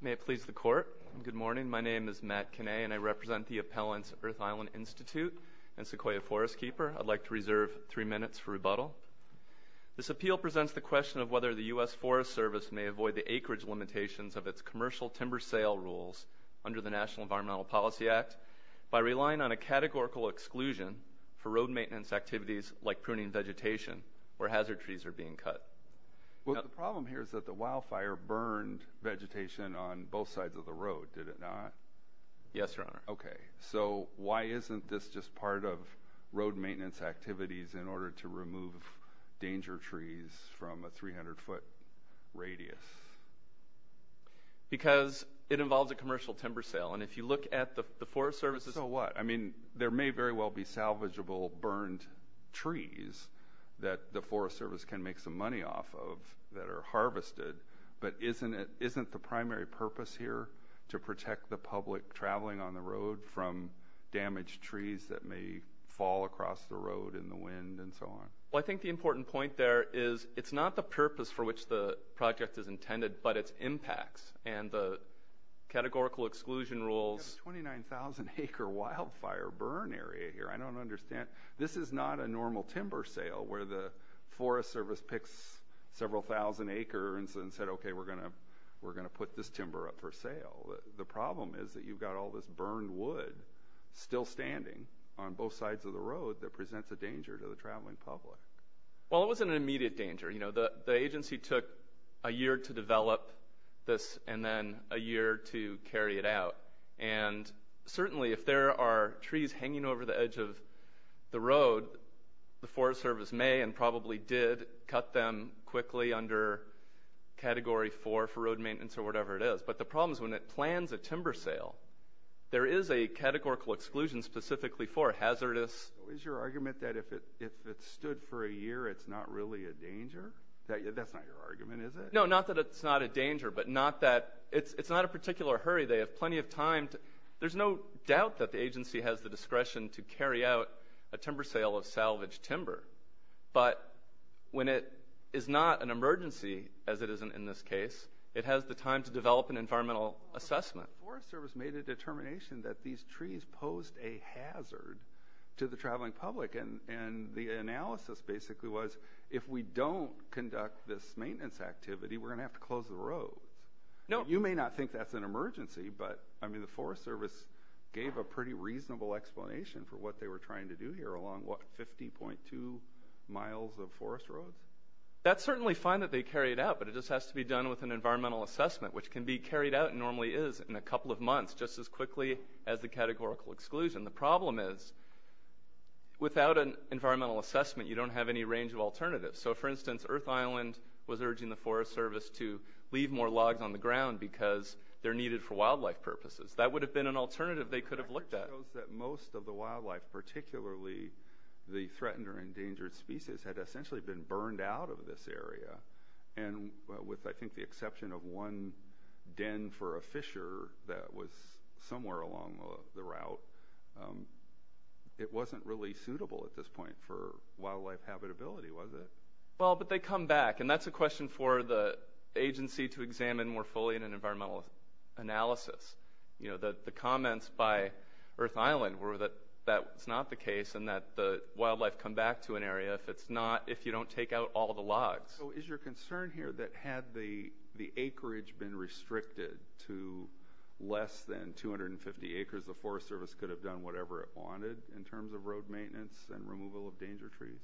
May it please the Court, good morning. My name is Matt Kinney and I represent the appellants Earth Island Institute and Sequoia Forest Keeper. I'd like to reserve three minutes for rebuttal. This appeal presents the question of whether the U.S. Forest Service may avoid the acreage limitations of its commercial timber sale rules under the National Environmental Policy Act by relying on a categorical exclusion for road maintenance activities like pruning vegetation where hazard trees are being cut. Well the problem here is that the wildfire burned vegetation on both sides of the road, did it not? Yes, Your Honor. Okay, so why isn't this just part of road maintenance activities in order to remove danger trees from a 300-foot radius? Because it involves a commercial timber sale and if you look at the Forest Service... So what? I mean there may very well be salvageable burned trees that the Forest Service can make some money off of that are harvested, but isn't it isn't the primary purpose here to protect the public traveling on the road from damaged trees that may fall across the road in the wind and so on? Well I think the important point there is it's not the purpose for which the project is intended but its impacts and the categorical exclusion rules. 29,000 acre wildfire burn area here, I don't understand. This is not a normal timber sale where the Forest Service picks several thousand acres and said okay we're gonna we're gonna put this timber up for sale. The problem is that you've got all this burned wood still standing on both sides of the road that presents a danger to the traveling public. Well it wasn't an immediate danger, you know, the agency took a year to develop this and then a year to carry it out and certainly if there are trees hanging over the edge of the road the Forest Service may and probably did cut them quickly under category 4 for road maintenance or whatever it is, but the problem is when it plans a timber sale there is a categorical exclusion specifically for hazardous... Is your argument that if it if it stood for a year it's not really a danger? That's not your argument is it? No not that it's not a danger but not that it's it's not a particular hurry they have plenty of time. There's no doubt that the agency has the discretion to carry out a timber sale of salvaged timber but when it is not an emergency as it isn't in this case it has the time to develop an environmental assessment. The Forest Service made a determination that these trees posed a hazard to the traveling public and and the analysis basically was if we don't conduct this maintenance activity we're going to have to close the roads. Now you may not think that's an emergency but I mean the Forest Service gave a pretty reasonable explanation for what they were trying to do here along what 50.2 miles of forest roads? That's certainly fine that they carry it out but it just has to be done with an environmental assessment which can be carried out normally is in a couple of months just as quickly as the categorical exclusion. The problem is without an environmental assessment you don't have any range of alternatives so for instance Earth Island was urging the Forest Service to leave more logs on the ground because they're needed for wildlife purposes. That would have been an alternative they could have looked at. Most of the wildlife particularly the threatened or endangered species had essentially been burned out of this area and with I think the exception of one den for a fisher that was somewhere along the route it wasn't really suitable at this point for wildlife habitability was it? Well but they come back and that's a question for the agency to examine more fully in an environmental analysis. You know that the comments by Earth Island were that that it's not the case and that the wildlife come back to an area if it's not if you don't take out all the logs. So is your concern here that had the acreage been restricted to less than 250 acres the Forest Service could have done whatever it wanted in terms of road maintenance and removal of danger trees?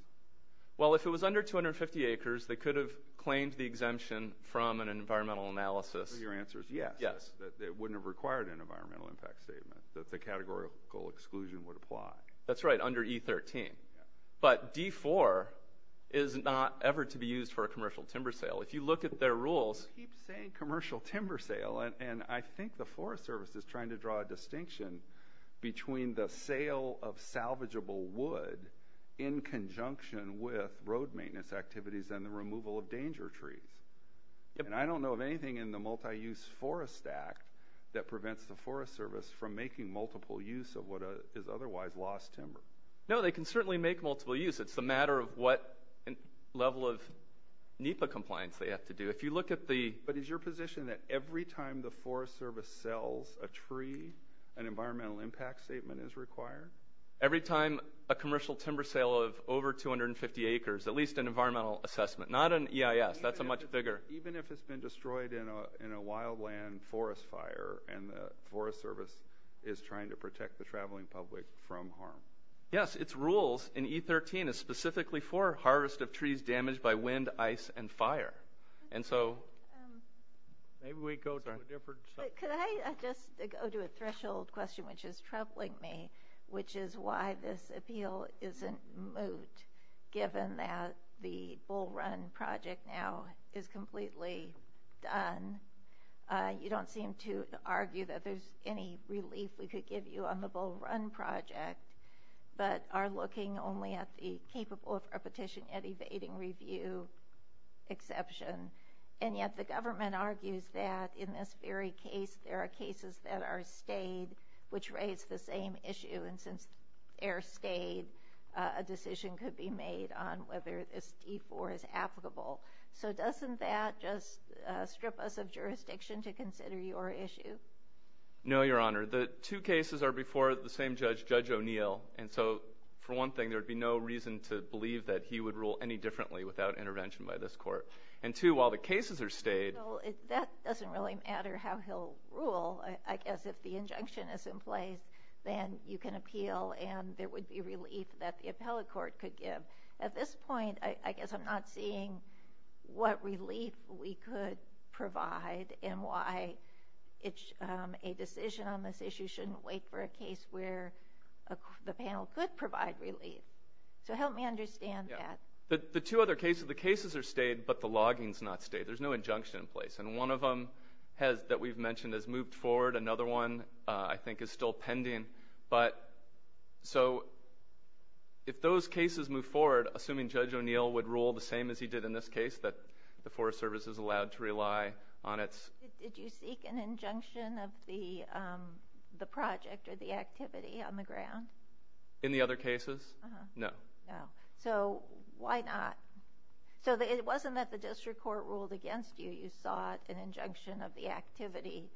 Well if it was under 250 acres they could have claimed the exemption from an environmental analysis. Your answer is yes that it wouldn't have required an environmental impact statement that the categorical exclusion would apply. That's right under E13 but D4 is not ever to be used for a commercial timber sale. If you look at their rules. You keep saying commercial timber sale and I think the Forest Service is trying to draw a distinction between the sale of maintenance activities and the removal of danger trees. And I don't know of anything in the multi-use Forest Act that prevents the Forest Service from making multiple use of what is otherwise lost timber. No they can certainly make multiple use it's the matter of what level of NEPA compliance they have to do. If you look at the. But is your position that every time the Forest Service sells a tree an environmental impact statement is required? Every time a commercial timber sale of over 250 acres at least an environmental assessment not an EIS that's a much bigger. Even if it's been destroyed in a in a wildland forest fire and the Forest Service is trying to protect the traveling public from harm? Yes its rules in E13 is specifically for harvest of trees damaged by wind ice and moot. Given that the bull run project now is completely done. You don't seem to argue that there's any relief we could give you on the bull run project. But are looking only at the capable of repetition at evading review exception. And yet the government argues that in this very case there are cases that are the same issue and since air stayed a decision could be made on whether this E4 is applicable. So doesn't that just strip us of jurisdiction to consider your issue? No your honor the two cases are before the same judge judge O'Neill and so for one thing there would be no reason to believe that he would rule any differently without intervention by this court. And two while the cases are stayed that doesn't really matter how he'll rule. I guess if the injunction is in place then you can appeal and there would be relief that the appellate court could give. At this point I guess I'm not seeing what relief we could provide and why it's a decision on this issue shouldn't wait for a case where the panel could provide relief. So help me understand that. The two other cases the logins not stay there's no injunction in place and one of them has that we've mentioned has moved forward another one I think is still pending. But so if those cases move forward assuming judge O'Neill would rule the same as he did in this case that the Forest Service is allowed to rely on its. Did you seek an injunction of the the project or the activity on the ground? In the other district court ruled against you you sought an injunction of the activity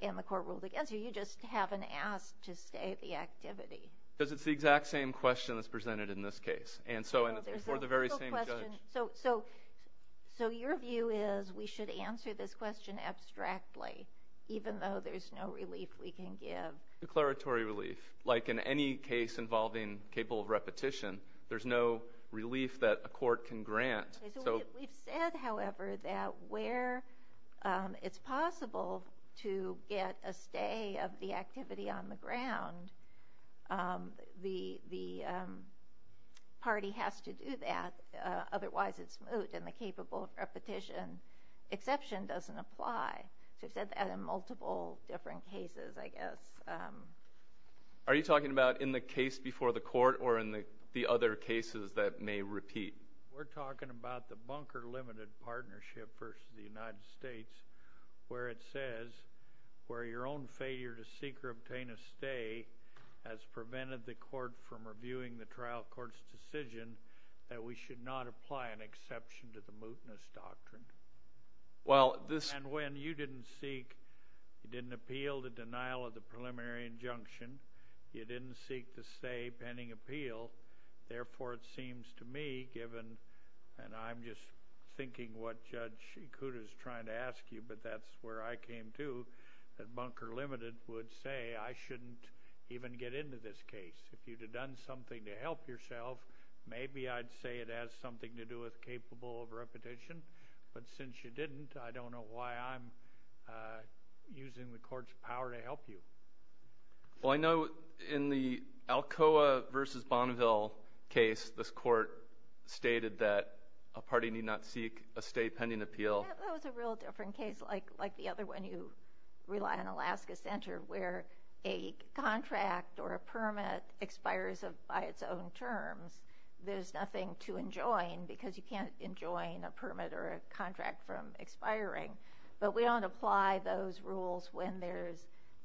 and the court ruled against you you just haven't asked to stay at the activity. Because it's the exact same question that's presented in this case and so and for the very same question. So so so your view is we should answer this question abstractly even though there's no relief we can give. Declaratory relief like in any case involving capable of repetition there's no relief that a court can grant. So we've said however that where it's possible to get a stay of the activity on the ground the the party has to do that otherwise it's moot and the capable of repetition exception doesn't apply. So we've said that in multiple different cases I guess. Are you talking about in the case before the court or in the the other cases that may repeat? We're talking about the bunker limited partnership versus the United States where it says where your own failure to seek or obtain a stay has prevented the court from reviewing the trial courts decision that we should not apply an exception to the mootness doctrine. Well this and when you didn't seek you didn't appeal the denial of the preliminary injunction you didn't seek to say pending appeal therefore it seems to me given and I'm just thinking what Judge Shikuda is trying to ask you but that's where I came to that bunker limited would say I shouldn't even get into this case. If you'd have done something to help yourself maybe I'd say it has something to do with capable of repetition but since you didn't I don't know why I'm using the court's power to help you. Well I know in the Alcoa versus Bonneville case this court stated that a party need not seek a stay pending appeal. That was a real different case like like the other one you rely on Alaska Center where a contract or a permit expires of by its own terms there's nothing to enjoin because you can't enjoin a permit or a contract from expiring but we don't apply those rules when there's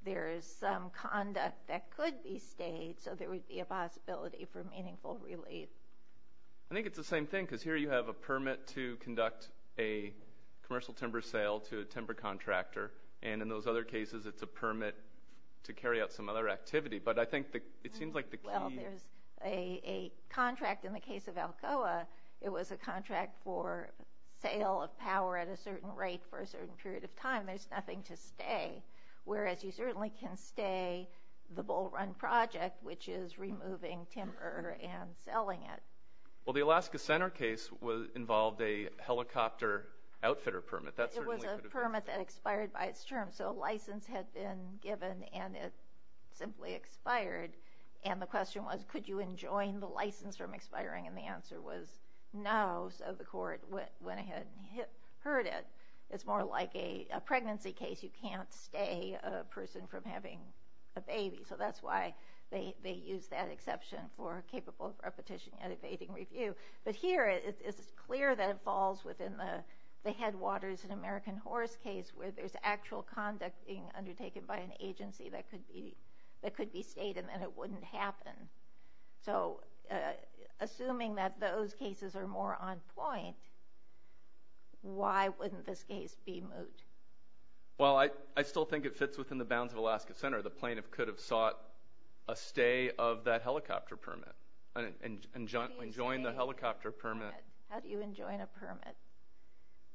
there is some conduct that could be stayed so there would be a possibility for meaningful relief. I think it's the same thing because here you have a permit to conduct a commercial timber sale to a timber contractor and in those other cases it's a permit to carry out some other activity but I think that it seems like the contract in the case of Alcoa it was a contract for sale of power at a certain rate for a certain period of time there's nothing to stay whereas you certainly can stay the bull run project which is removing timber and selling it. Well the Alaska Center case was involved a helicopter outfitter permit that's a permit that expired by its term so a license had been given and it simply expired and the question was could you enjoin the license from expiring and the it's more like a pregnancy case you can't stay a person from having a baby so that's why they use that exception for capable of repetition and evading review but here it is clear that it falls within the headwaters in American horse case where there's actual conduct being undertaken by an agency that could be that could be stayed and then it wouldn't happen so assuming that those cases are more on point why wouldn't this case be moot? Well I I still think it fits within the bounds of Alaska Center the plaintiff could have sought a stay of that helicopter permit and join the helicopter permit. How do you enjoin a permit?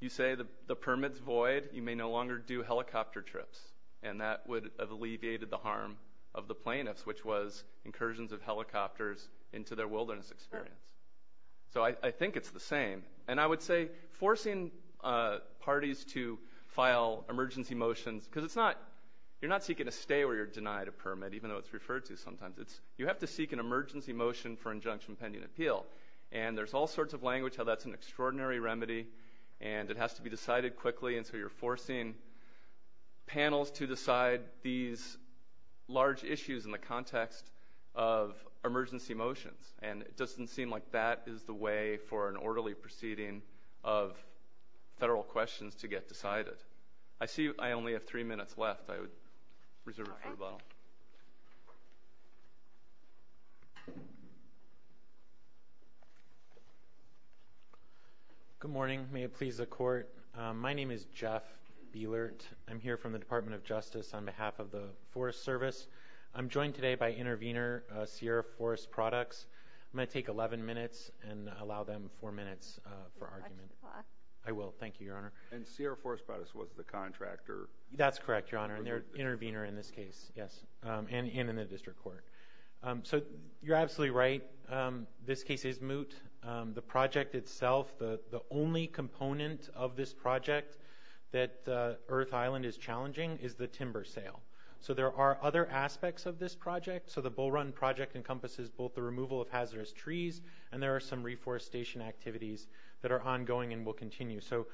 You say the the permits void you may no longer do helicopter trips and that would have alleviated the harm of the plaintiffs which was incursions of helicopters into their wilderness experience so I think it's the same and I would say forcing parties to file emergency motions because it's not you're not seeking a stay or you're denied a permit even though it's referred to sometimes it's you have to seek an emergency motion for injunction pending appeal and there's all sorts of language how that's an extraordinary remedy and it has to be decided quickly and so you're forcing panels to decide these large issues in the context of this doesn't seem like that is the way for an orderly proceeding of federal questions to get decided. I see I only have three minutes left I would reserve it for the bottle. Good morning may it please the court my name is Jeff Bielert I'm here from the Department of Justice on behalf of the Forest Service I'm joined today by and allow them four minutes for argument I will thank you your honor and Sierra Forest Produce was the contractor that's correct your honor and their intervener in this case yes and in the district court so you're absolutely right this case is moot the project itself the the only component of this project that Earth Island is challenging is the timber sale so there are other aspects of this project so the bull run project encompasses both the removal of trees and there are some reforestation activities that are ongoing and will continue so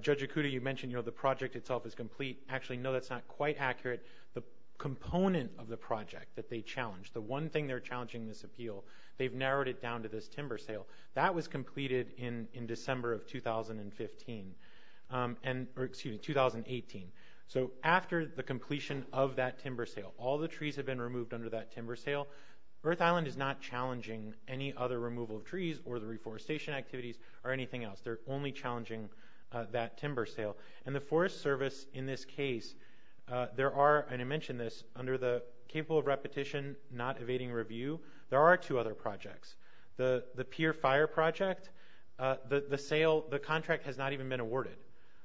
Judge Okuda you mentioned you know the project itself is complete actually no that's not quite accurate the component of the project that they challenged the one thing they're challenging this appeal they've narrowed it down to this timber sale that was completed in in December of 2015 and excuse me 2018 so after the completion of that timber sale all the trees have been removed under that timber sale Earth Island is not challenging the removal of trees or the reforestation activities or anything else they're only challenging that timber sale and the Forest Service in this case there are and I mentioned this under the capable of repetition not evading review there are two other projects the the peer fire project the the sale the contract has not even been awarded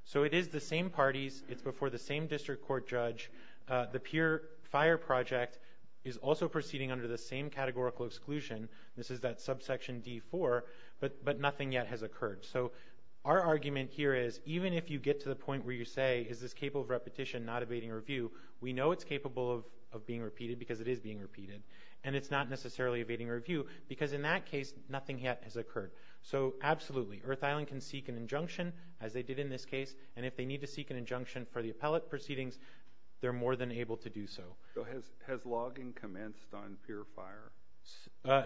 so it is the same parties it's before the same district court judge the peer fire project is also proceeding under the same categorical exclusion this is that subsection d4 but but nothing yet has occurred so our argument here is even if you get to the point where you say is this capable of repetition not evading review we know it's capable of being repeated because it is being repeated and it's not necessarily evading review because in that case nothing yet has occurred so absolutely Earth Island can seek an injunction as they did in this case and if they need to seek an injunction for the appellate proceedings they're more than able to do so has logging commenced on pure fire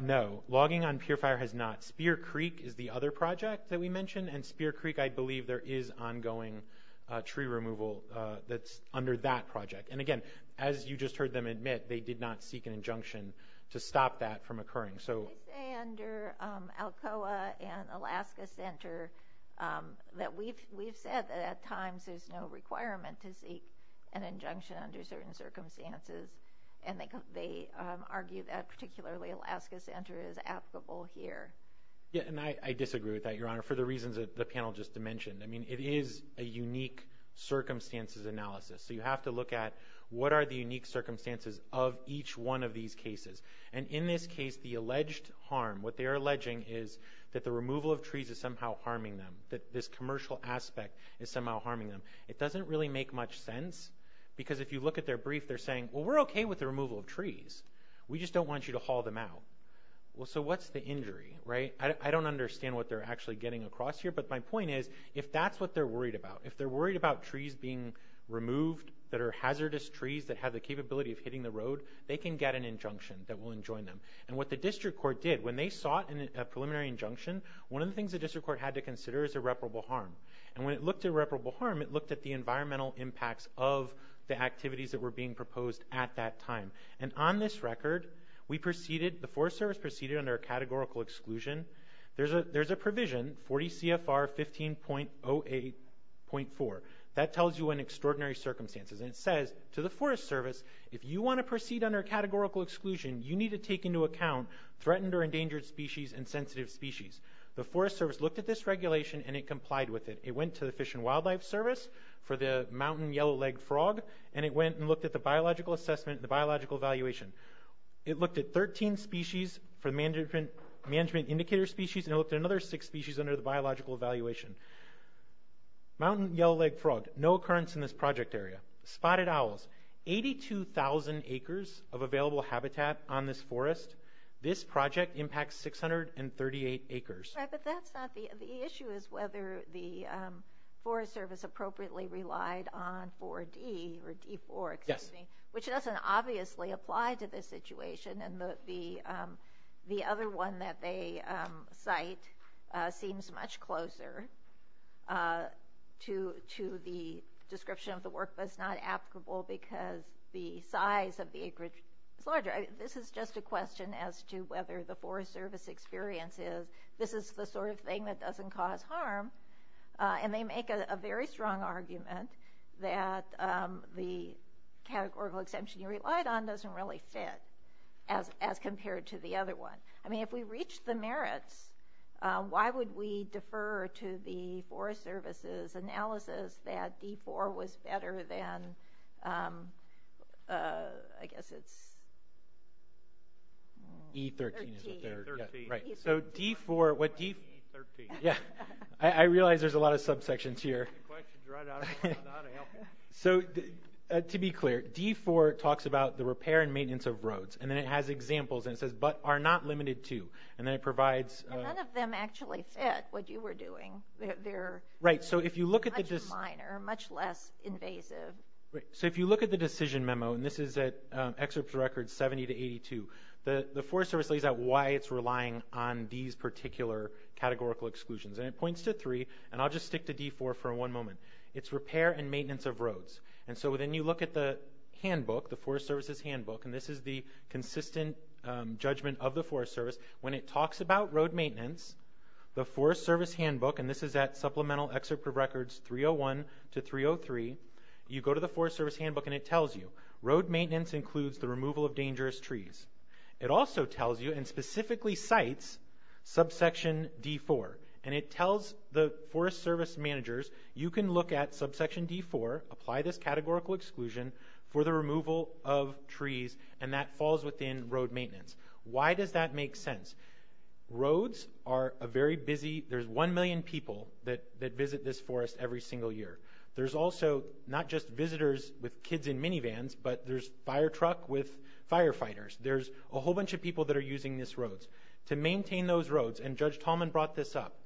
no logging on pure fire has not Spear Creek is the other project that we mentioned and Spear Creek I believe there is ongoing tree removal that's under that project and again as you just heard them admit they did not seek an injunction to stop that from occurring so Alcoa and Alaska Center that we've we've said that at requirement to seek an injunction under certain circumstances and they argue that particularly Alaska Center is applicable here yeah and I disagree with that your honor for the reasons that the panel just dimensioned I mean it is a unique circumstances analysis so you have to look at what are the unique circumstances of each one of these cases and in this case the alleged harm what they are alleging is that the removal of trees is somehow harming them that this really make much sense because if you look at their brief they're saying we're okay with the removal of trees we just don't want you to haul them out well so what's the injury right I don't understand what they're actually getting across here but my point is if that's what they're worried about if they're worried about trees being removed that are hazardous trees that have the capability of hitting the road they can get an injunction that will enjoin them and what the district court did when they sought in a preliminary injunction one of the things the district court had to consider is irreparable harm and when it looked at reputable harm it looked at the environmental impacts of the activities that were being proposed at that time and on this record we proceeded the Forest Service proceeded under a categorical exclusion there's a there's a provision 40 CFR 15.08.4 that tells you an extraordinary circumstances and it says to the Forest Service if you want to proceed under a categorical exclusion you need to take into account threatened or endangered species and sensitive species the Forest Service looked at this regulation and it complied with it it went to the Fish and Wildlife Service for the mountain yellow-legged frog and it went and looked at the biological assessment the biological evaluation it looked at 13 species for management management indicator species and looked at another six species under the biological evaluation mountain yellow-legged frog no occurrence in this project area spotted owls 82,000 acres of available habitat on this forest this is not the issue is whether the Forest Service appropriately relied on 4d or d4 yes which doesn't obviously apply to this situation and the the other one that they cite seems much closer to to the description of the work that's not applicable because the size of the acreage it's larger this is just a thing that doesn't cause harm and they make a very strong argument that the categorical exemption you relied on doesn't really fit as as compared to the other one I mean if we reach the merits why would we defer to the Forest Services analysis that d4 was better than I guess it's e13 right so d4 what yeah I realize there's a lot of subsections here so to be clear d4 talks about the repair and maintenance of roads and then it has examples and says but are not limited to and then it provides them actually fit what you were doing there right so if you look at this minor much less invasive right so if you look at the decision memo and this is that excerpts record 70 to 82 the the service lays out why it's relying on these particular categorical exclusions and it points to three and I'll just stick to d4 for one moment it's repair and maintenance of roads and so within you look at the handbook the Forest Services handbook and this is the consistent judgment of the Forest Service when it talks about road maintenance the Forest Service handbook and this is that supplemental excerpt of records 301 to 303 you go to the Forest Service handbook and it tells you road maintenance includes the removal of trees and it tells you and specifically cites subsection d4 and it tells the Forest Service managers you can look at subsection d4 apply this categorical exclusion for the removal of trees and that falls within road maintenance why does that make sense roads are a very busy there's 1 million people that that visit this forest every single year there's also not just visitors with kids in minivans but there's fire truck with firefighters there's a whole bunch of people that are using this roads to maintain those roads and judge Talman brought this up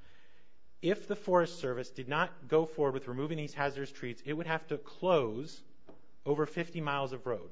if the Forest Service did not go forward with removing these hazardous trees it would have to close over 50 miles of road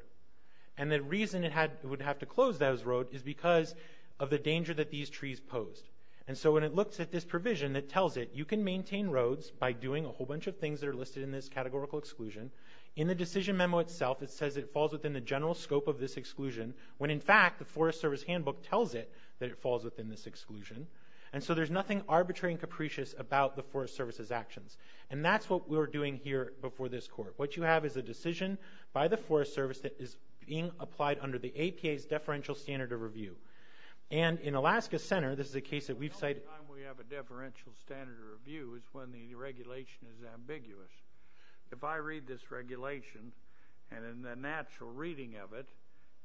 and the reason it had it would have to close those road is because of the danger that these trees posed and so when it looks at this provision that tells it you can maintain roads by doing a whole bunch of things that are listed in this categorical exclusion in the decision memo itself it says it falls within the scope of this exclusion when in fact the Forest Service handbook tells it that it falls within this exclusion and so there's nothing arbitrary and capricious about the Forest Service's actions and that's what we were doing here before this court what you have is a decision by the Forest Service that is being applied under the APA's deferential standard of review and in Alaska Center this is a case that we've cited we have a deferential standard review is when the regulation is ambiguous if I read this regulation and the natural reading of it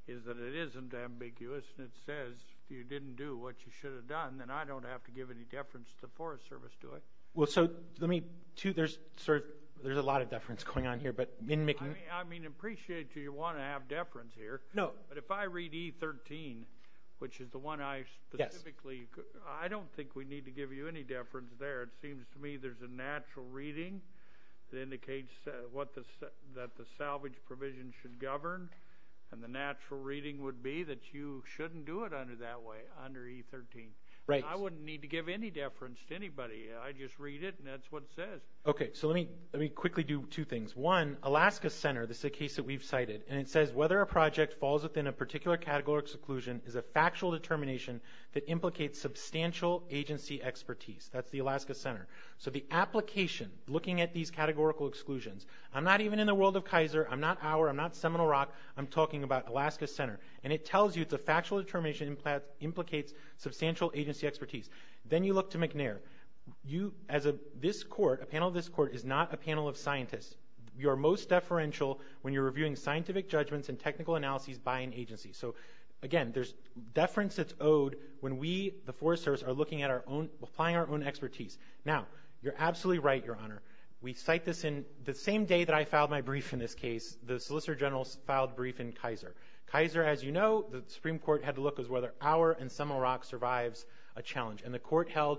is that it isn't ambiguous and it says you didn't do what you should have done then I don't have to give any deference to the Forest Service do it well so let me to there's sort of there's a lot of deference going on here but in making I mean appreciate you want to have deference here no but if I read e13 which is the one I specifically I don't think we need to give you any deference there it seems to me there's a natural reading that indicates what the that the salvage provision should govern and the natural reading would be that you shouldn't do it under that way under e13 right I wouldn't need to give any deference to anybody I just read it and that's what says okay so let me let me quickly do two things one Alaska Center this is a case that we've cited and it says whether a project falls within a particular category exclusion is a factual determination that implicates substantial agency expertise that's the Alaska Center so the application looking at these categorical exclusions I'm not even in the world of Kaiser I'm not our I'm not Seminole Rock I'm talking about Alaska Center and it tells you it's a factual determination in plants implicates substantial agency expertise then you look to McNair you as a this court a panel of this court is not a panel of scientists we are most deferential when you're reviewing scientific judgments and technical analyses by an agency so again there's deference it's owed when we the Forest Service are looking at our own applying our own expertise now you're absolutely right your honor we cite this in the same day that I filed my brief in this case the Solicitor General's filed brief in Kaiser Kaiser as you know the Supreme Court had to look as whether our and Seminole Rock survives a challenge and the court held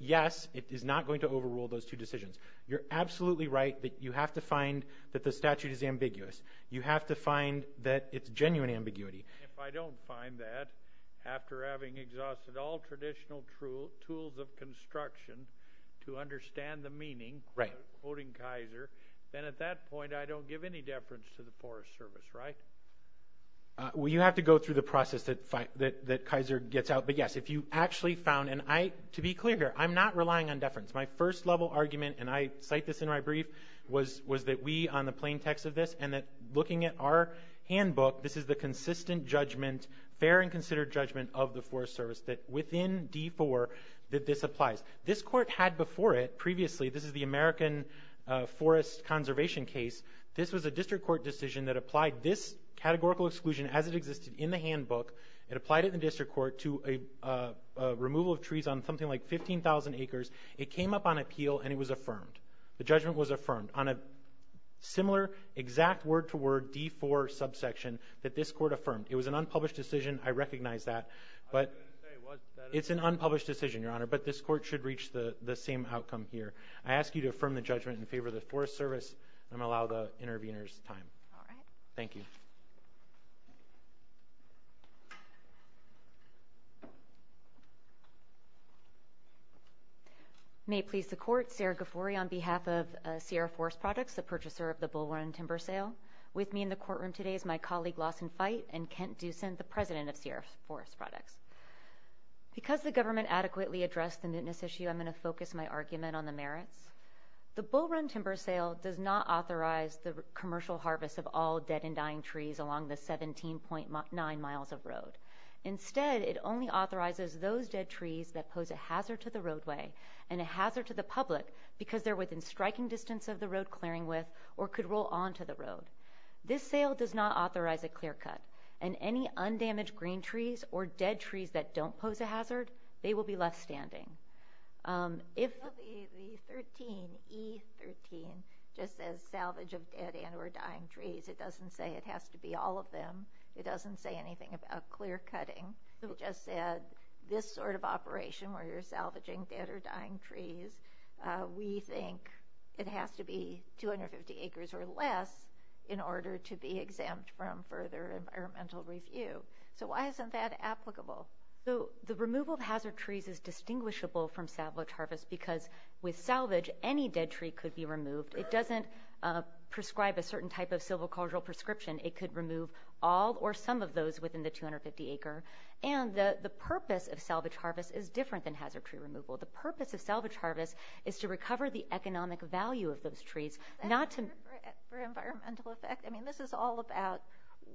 yes it is not going to overrule those two decisions you're absolutely right that you have to find that the statute is ambiguous you have to find that it's genuine ambiguity if I after having exhausted all traditional true tools of construction to understand the meaning right quoting Kaiser then at that point I don't give any deference to the Forest Service right well you have to go through the process that fight that that Kaiser gets out but yes if you actually found and I to be clear here I'm not relying on deference my first level argument and I cite this in my brief was was that we on the plaintext of this and that looking at our handbook this is the consistent judgment fair and considered judgment of the Forest Service that within d4 that this applies this court had before it previously this is the American Forest Conservation case this was a district court decision that applied this categorical exclusion as it existed in the handbook it applied it in district court to a removal of trees on something like 15,000 acres it came up on appeal and it was affirmed the judgment was that this court affirmed it was an unpublished decision I recognize that but it's an unpublished decision your honor but this court should reach the the same outcome here I ask you to affirm the judgment in favor of the Forest Service and allow the interveners time thank you may please the court Sarah Gafuri on behalf of Sierra Forest Products the purchaser of the Bull Run timber sale with me in the courtroom today is my colleague Lawson fight and Kent do send the president of Sierra Forest Products because the government adequately addressed the newness issue I'm going to focus my argument on the merits the Bull Run timber sale does not authorize the commercial harvest of all dead and dying trees along the 17.9 miles of road instead it only authorizes those dead trees that pose a hazard to the roadway and a hazard to the public because they're within striking distance of the a clear-cut and any undamaged green trees or dead trees that don't pose a hazard they will be left standing it doesn't say it has to be all of them it doesn't say anything about clear-cutting who just said this sort of operation where you're salvaging dead or dying trees we think it has to be 250 acres or less in order to be exempt from further environmental review so why isn't that applicable so the removal of hazard trees is distinguishable from salvage harvest because with salvage any dead tree could be removed it doesn't prescribe a certain type of silvicultural prescription it could remove all or some of those within the 250 acre and the the purpose of salvage harvest is different than hazard tree removal the purpose of salvage harvest is to recover the economic value of those trees not to I mean this is all about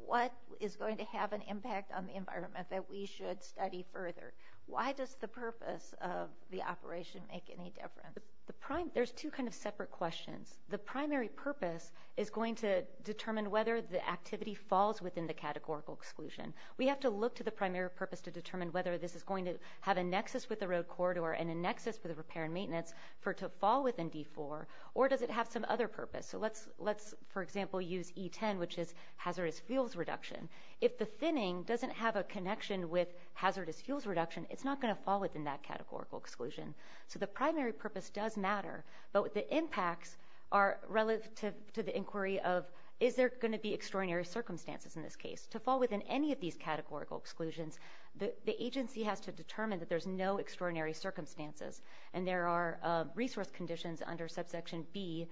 what is going to have an impact on the environment that we should study further why does the purpose of the operation make any difference the prime there's two kind of separate questions the primary purpose is going to determine whether the activity falls within the categorical exclusion we have to look to the primary purpose to determine whether this is going to have a nexus with the road corridor and a nexus for the repair and maintenance for to fall within d4 or does it have some other purpose so let's let's for example use e10 which is hazardous fuels reduction if the thinning doesn't have a connection with hazardous fuels reduction it's not going to fall within that categorical exclusion so the primary purpose does matter but with the impacts are relative to the inquiry of is there going to be extraordinary circumstances in this case to fall within any of these categorical exclusions the agency has to determine that there's no extraordinary circumstances and there are resource conditions under subsection B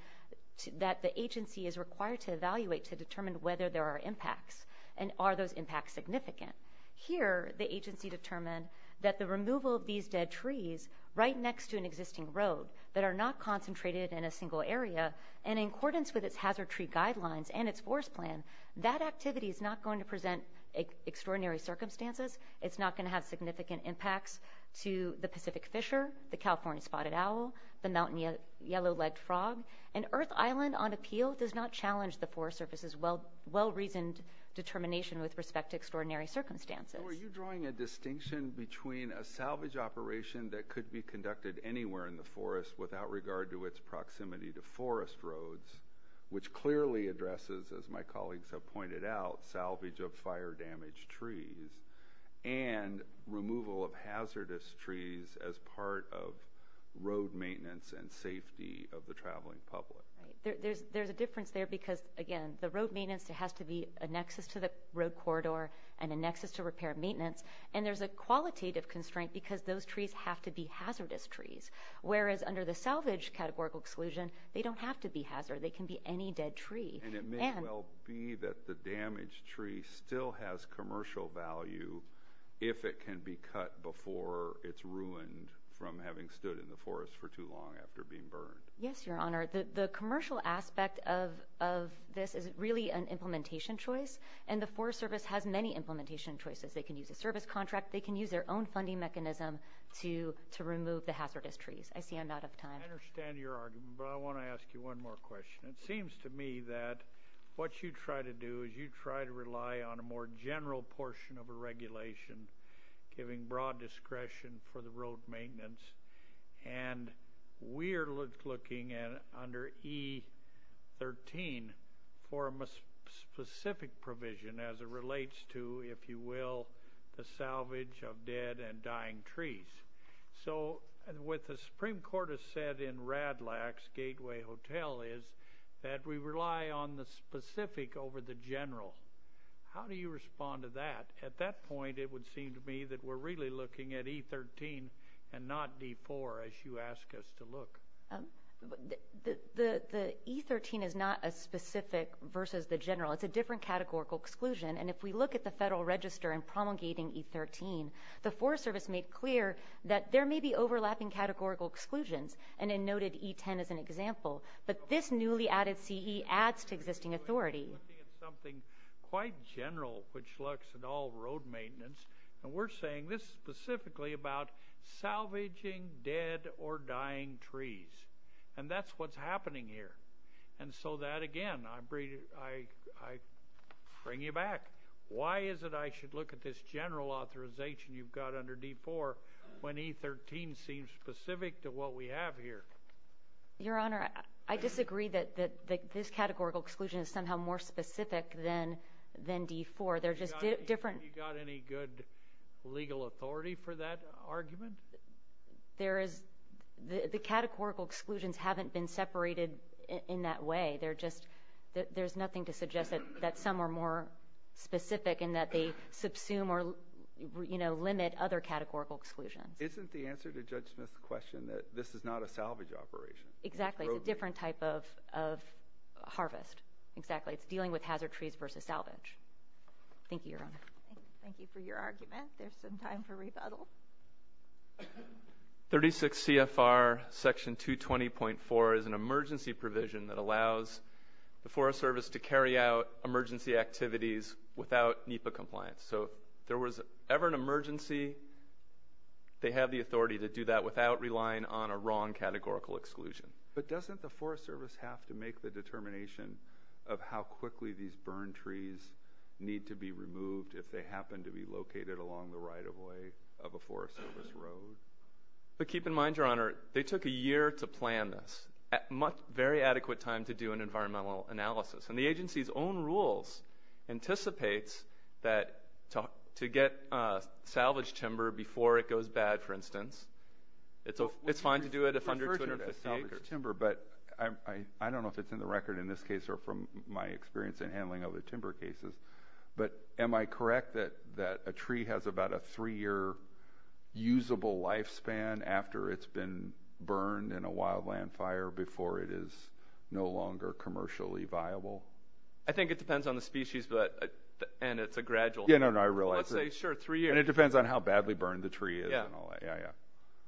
that the agency is required to evaluate to determine whether there are impacts and are those impacts significant here the agency determined that the removal of these dead trees right next to an existing road that are not concentrated in a single area and in accordance with its hazard tree guidelines and its forest plan that activity is not going to present extraordinary circumstances it's not going to have significant impacts to the Pacific Fisher the California spotted owl the mountain yellow-legged frog and Earth Island on appeal does not challenge the forest surface as well well-reasoned determination with respect to extraordinary circumstances are you drawing a distinction between a salvage operation that could be conducted anywhere in the forest without regard to its proximity to forest roads which clearly addresses as my colleagues have pointed out salvage of fire damaged trees and removal of hazardous trees as part of road maintenance and safety of the traveling public there's there's a difference there because again the road maintenance there has to be a nexus to the road corridor and a nexus to repair maintenance and there's a qualitative constraint because those trees have to be hazardous trees whereas under the salvage categorical exclusion they don't have to be hazard they can be any dead tree and it may well be that the damaged tree still has commercial value if it can be cut before it's ruined from having stood in the forest for too long after being burned yes your honor the commercial aspect of this is really an implementation choice and the Forest Service has many implementation choices they can use a service contract they can use their own funding mechanism to to remove the hazardous trees I see I'm not I understand your argument but I want to ask you one more question it seems to me that what you try to do is you try to rely on a more general portion of a regulation giving broad discretion for the road maintenance and we're looking at under e13 for a specific provision as it relates to if you will the salvage of dead and dying trees so and with the Supreme Court has said in rad lax Gateway Hotel is that we rely on the specific over the general how do you respond to that at that point it would seem to me that we're really looking at e13 and not d4 as you ask us to look the the e13 is not a specific versus the general it's a different categorical exclusion and if we look at the Federal Register and promulgating e13 the Forest Service made clear that there may be overlapping categorical exclusions and in noted e10 as an example but this newly added CE adds to existing authority something quite general which looks at all road maintenance and we're saying this specifically about salvaging dead or dying trees and that's what's happening here and so that again I bring you back why is it I should look at this general authorization you've got under d4 when e13 seems specific to what we have here your honor I disagree that that this categorical exclusion is somehow more specific than then d4 they're just different you got any good legal authority for that argument there is the the categorical exclusions haven't been separated in that way they're just there's nothing to suggest that that some are more specific in that they subsume or you know limit other categorical exclusions isn't the answer to judge Smith's question that this is not a salvage operation exactly a different type of harvest exactly it's dealing with hazard trees versus salvage thank you your honor thank you for your argument there's some time for the Forest Service to carry out emergency activities without NEPA compliance so there was ever an emergency they have the authority to do that without relying on a wrong categorical exclusion but doesn't the Forest Service have to make the determination of how quickly these burn trees need to be removed if they happen to be located along the right-of-way of a forest service road but keep in mind your honor they took a year to plan this very adequate time to do an environmental analysis and the agency's own rules anticipates that to get salvaged timber before it goes bad for instance it's a it's fine to do it if under timber but I I don't know if it's in the record in this case or from my experience in handling of the timber cases but am I correct that that a tree has about a three-year usable lifespan after it's been burned in a wildland fire before it is no longer commercially viable I think it depends on the species but and it's a gradual yeah no no I realize sure three years it depends on how badly burned the tree is yeah yeah yeah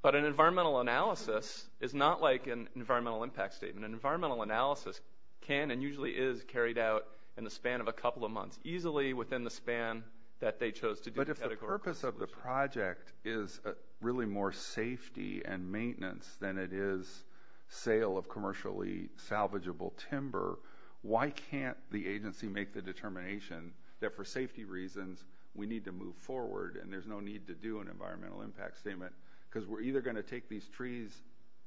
but an environmental analysis is not like an environmental impact statement an environmental analysis can and usually is carried out in the span of a couple of months easily within the span that they chose to but if the project is really more safety and maintenance than it is sale of commercially salvageable timber why can't the agency make the determination that for safety reasons we need to move forward and there's no need to do an environmental impact statement because we're either going to take these trees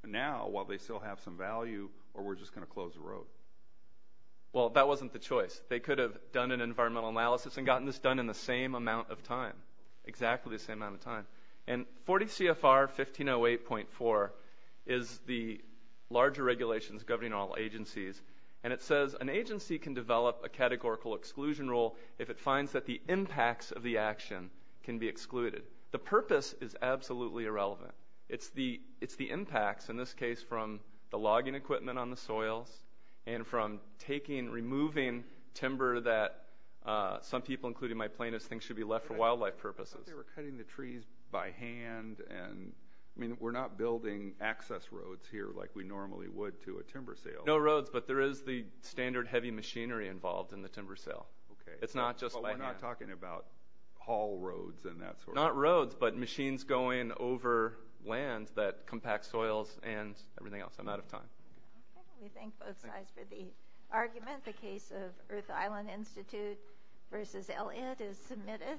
now while they still have some value or we're just going to close the road well that wasn't the choice they could have done an environmental analysis and exactly the same amount of time and 40 CFR 1508.4 is the larger regulations governing all agencies and it says an agency can develop a categorical exclusion rule if it finds that the impacts of the action can be excluded the purpose is absolutely irrelevant it's the it's the impacts in this case from the logging equipment on the soils and from taking removing timber that some people including my plaintiffs think should be left for wildlife purposes. They were cutting the trees by hand and I mean we're not building access roads here like we normally would to a timber sale. No roads but there is the standard heavy machinery involved in the timber sale okay it's not just we're not talking about haul roads and that's not roads but machines going over lands that compact soils and everything else I'm out of time. We thank both sides for the argument the case of Earth Island Institute versus Elliot is submitted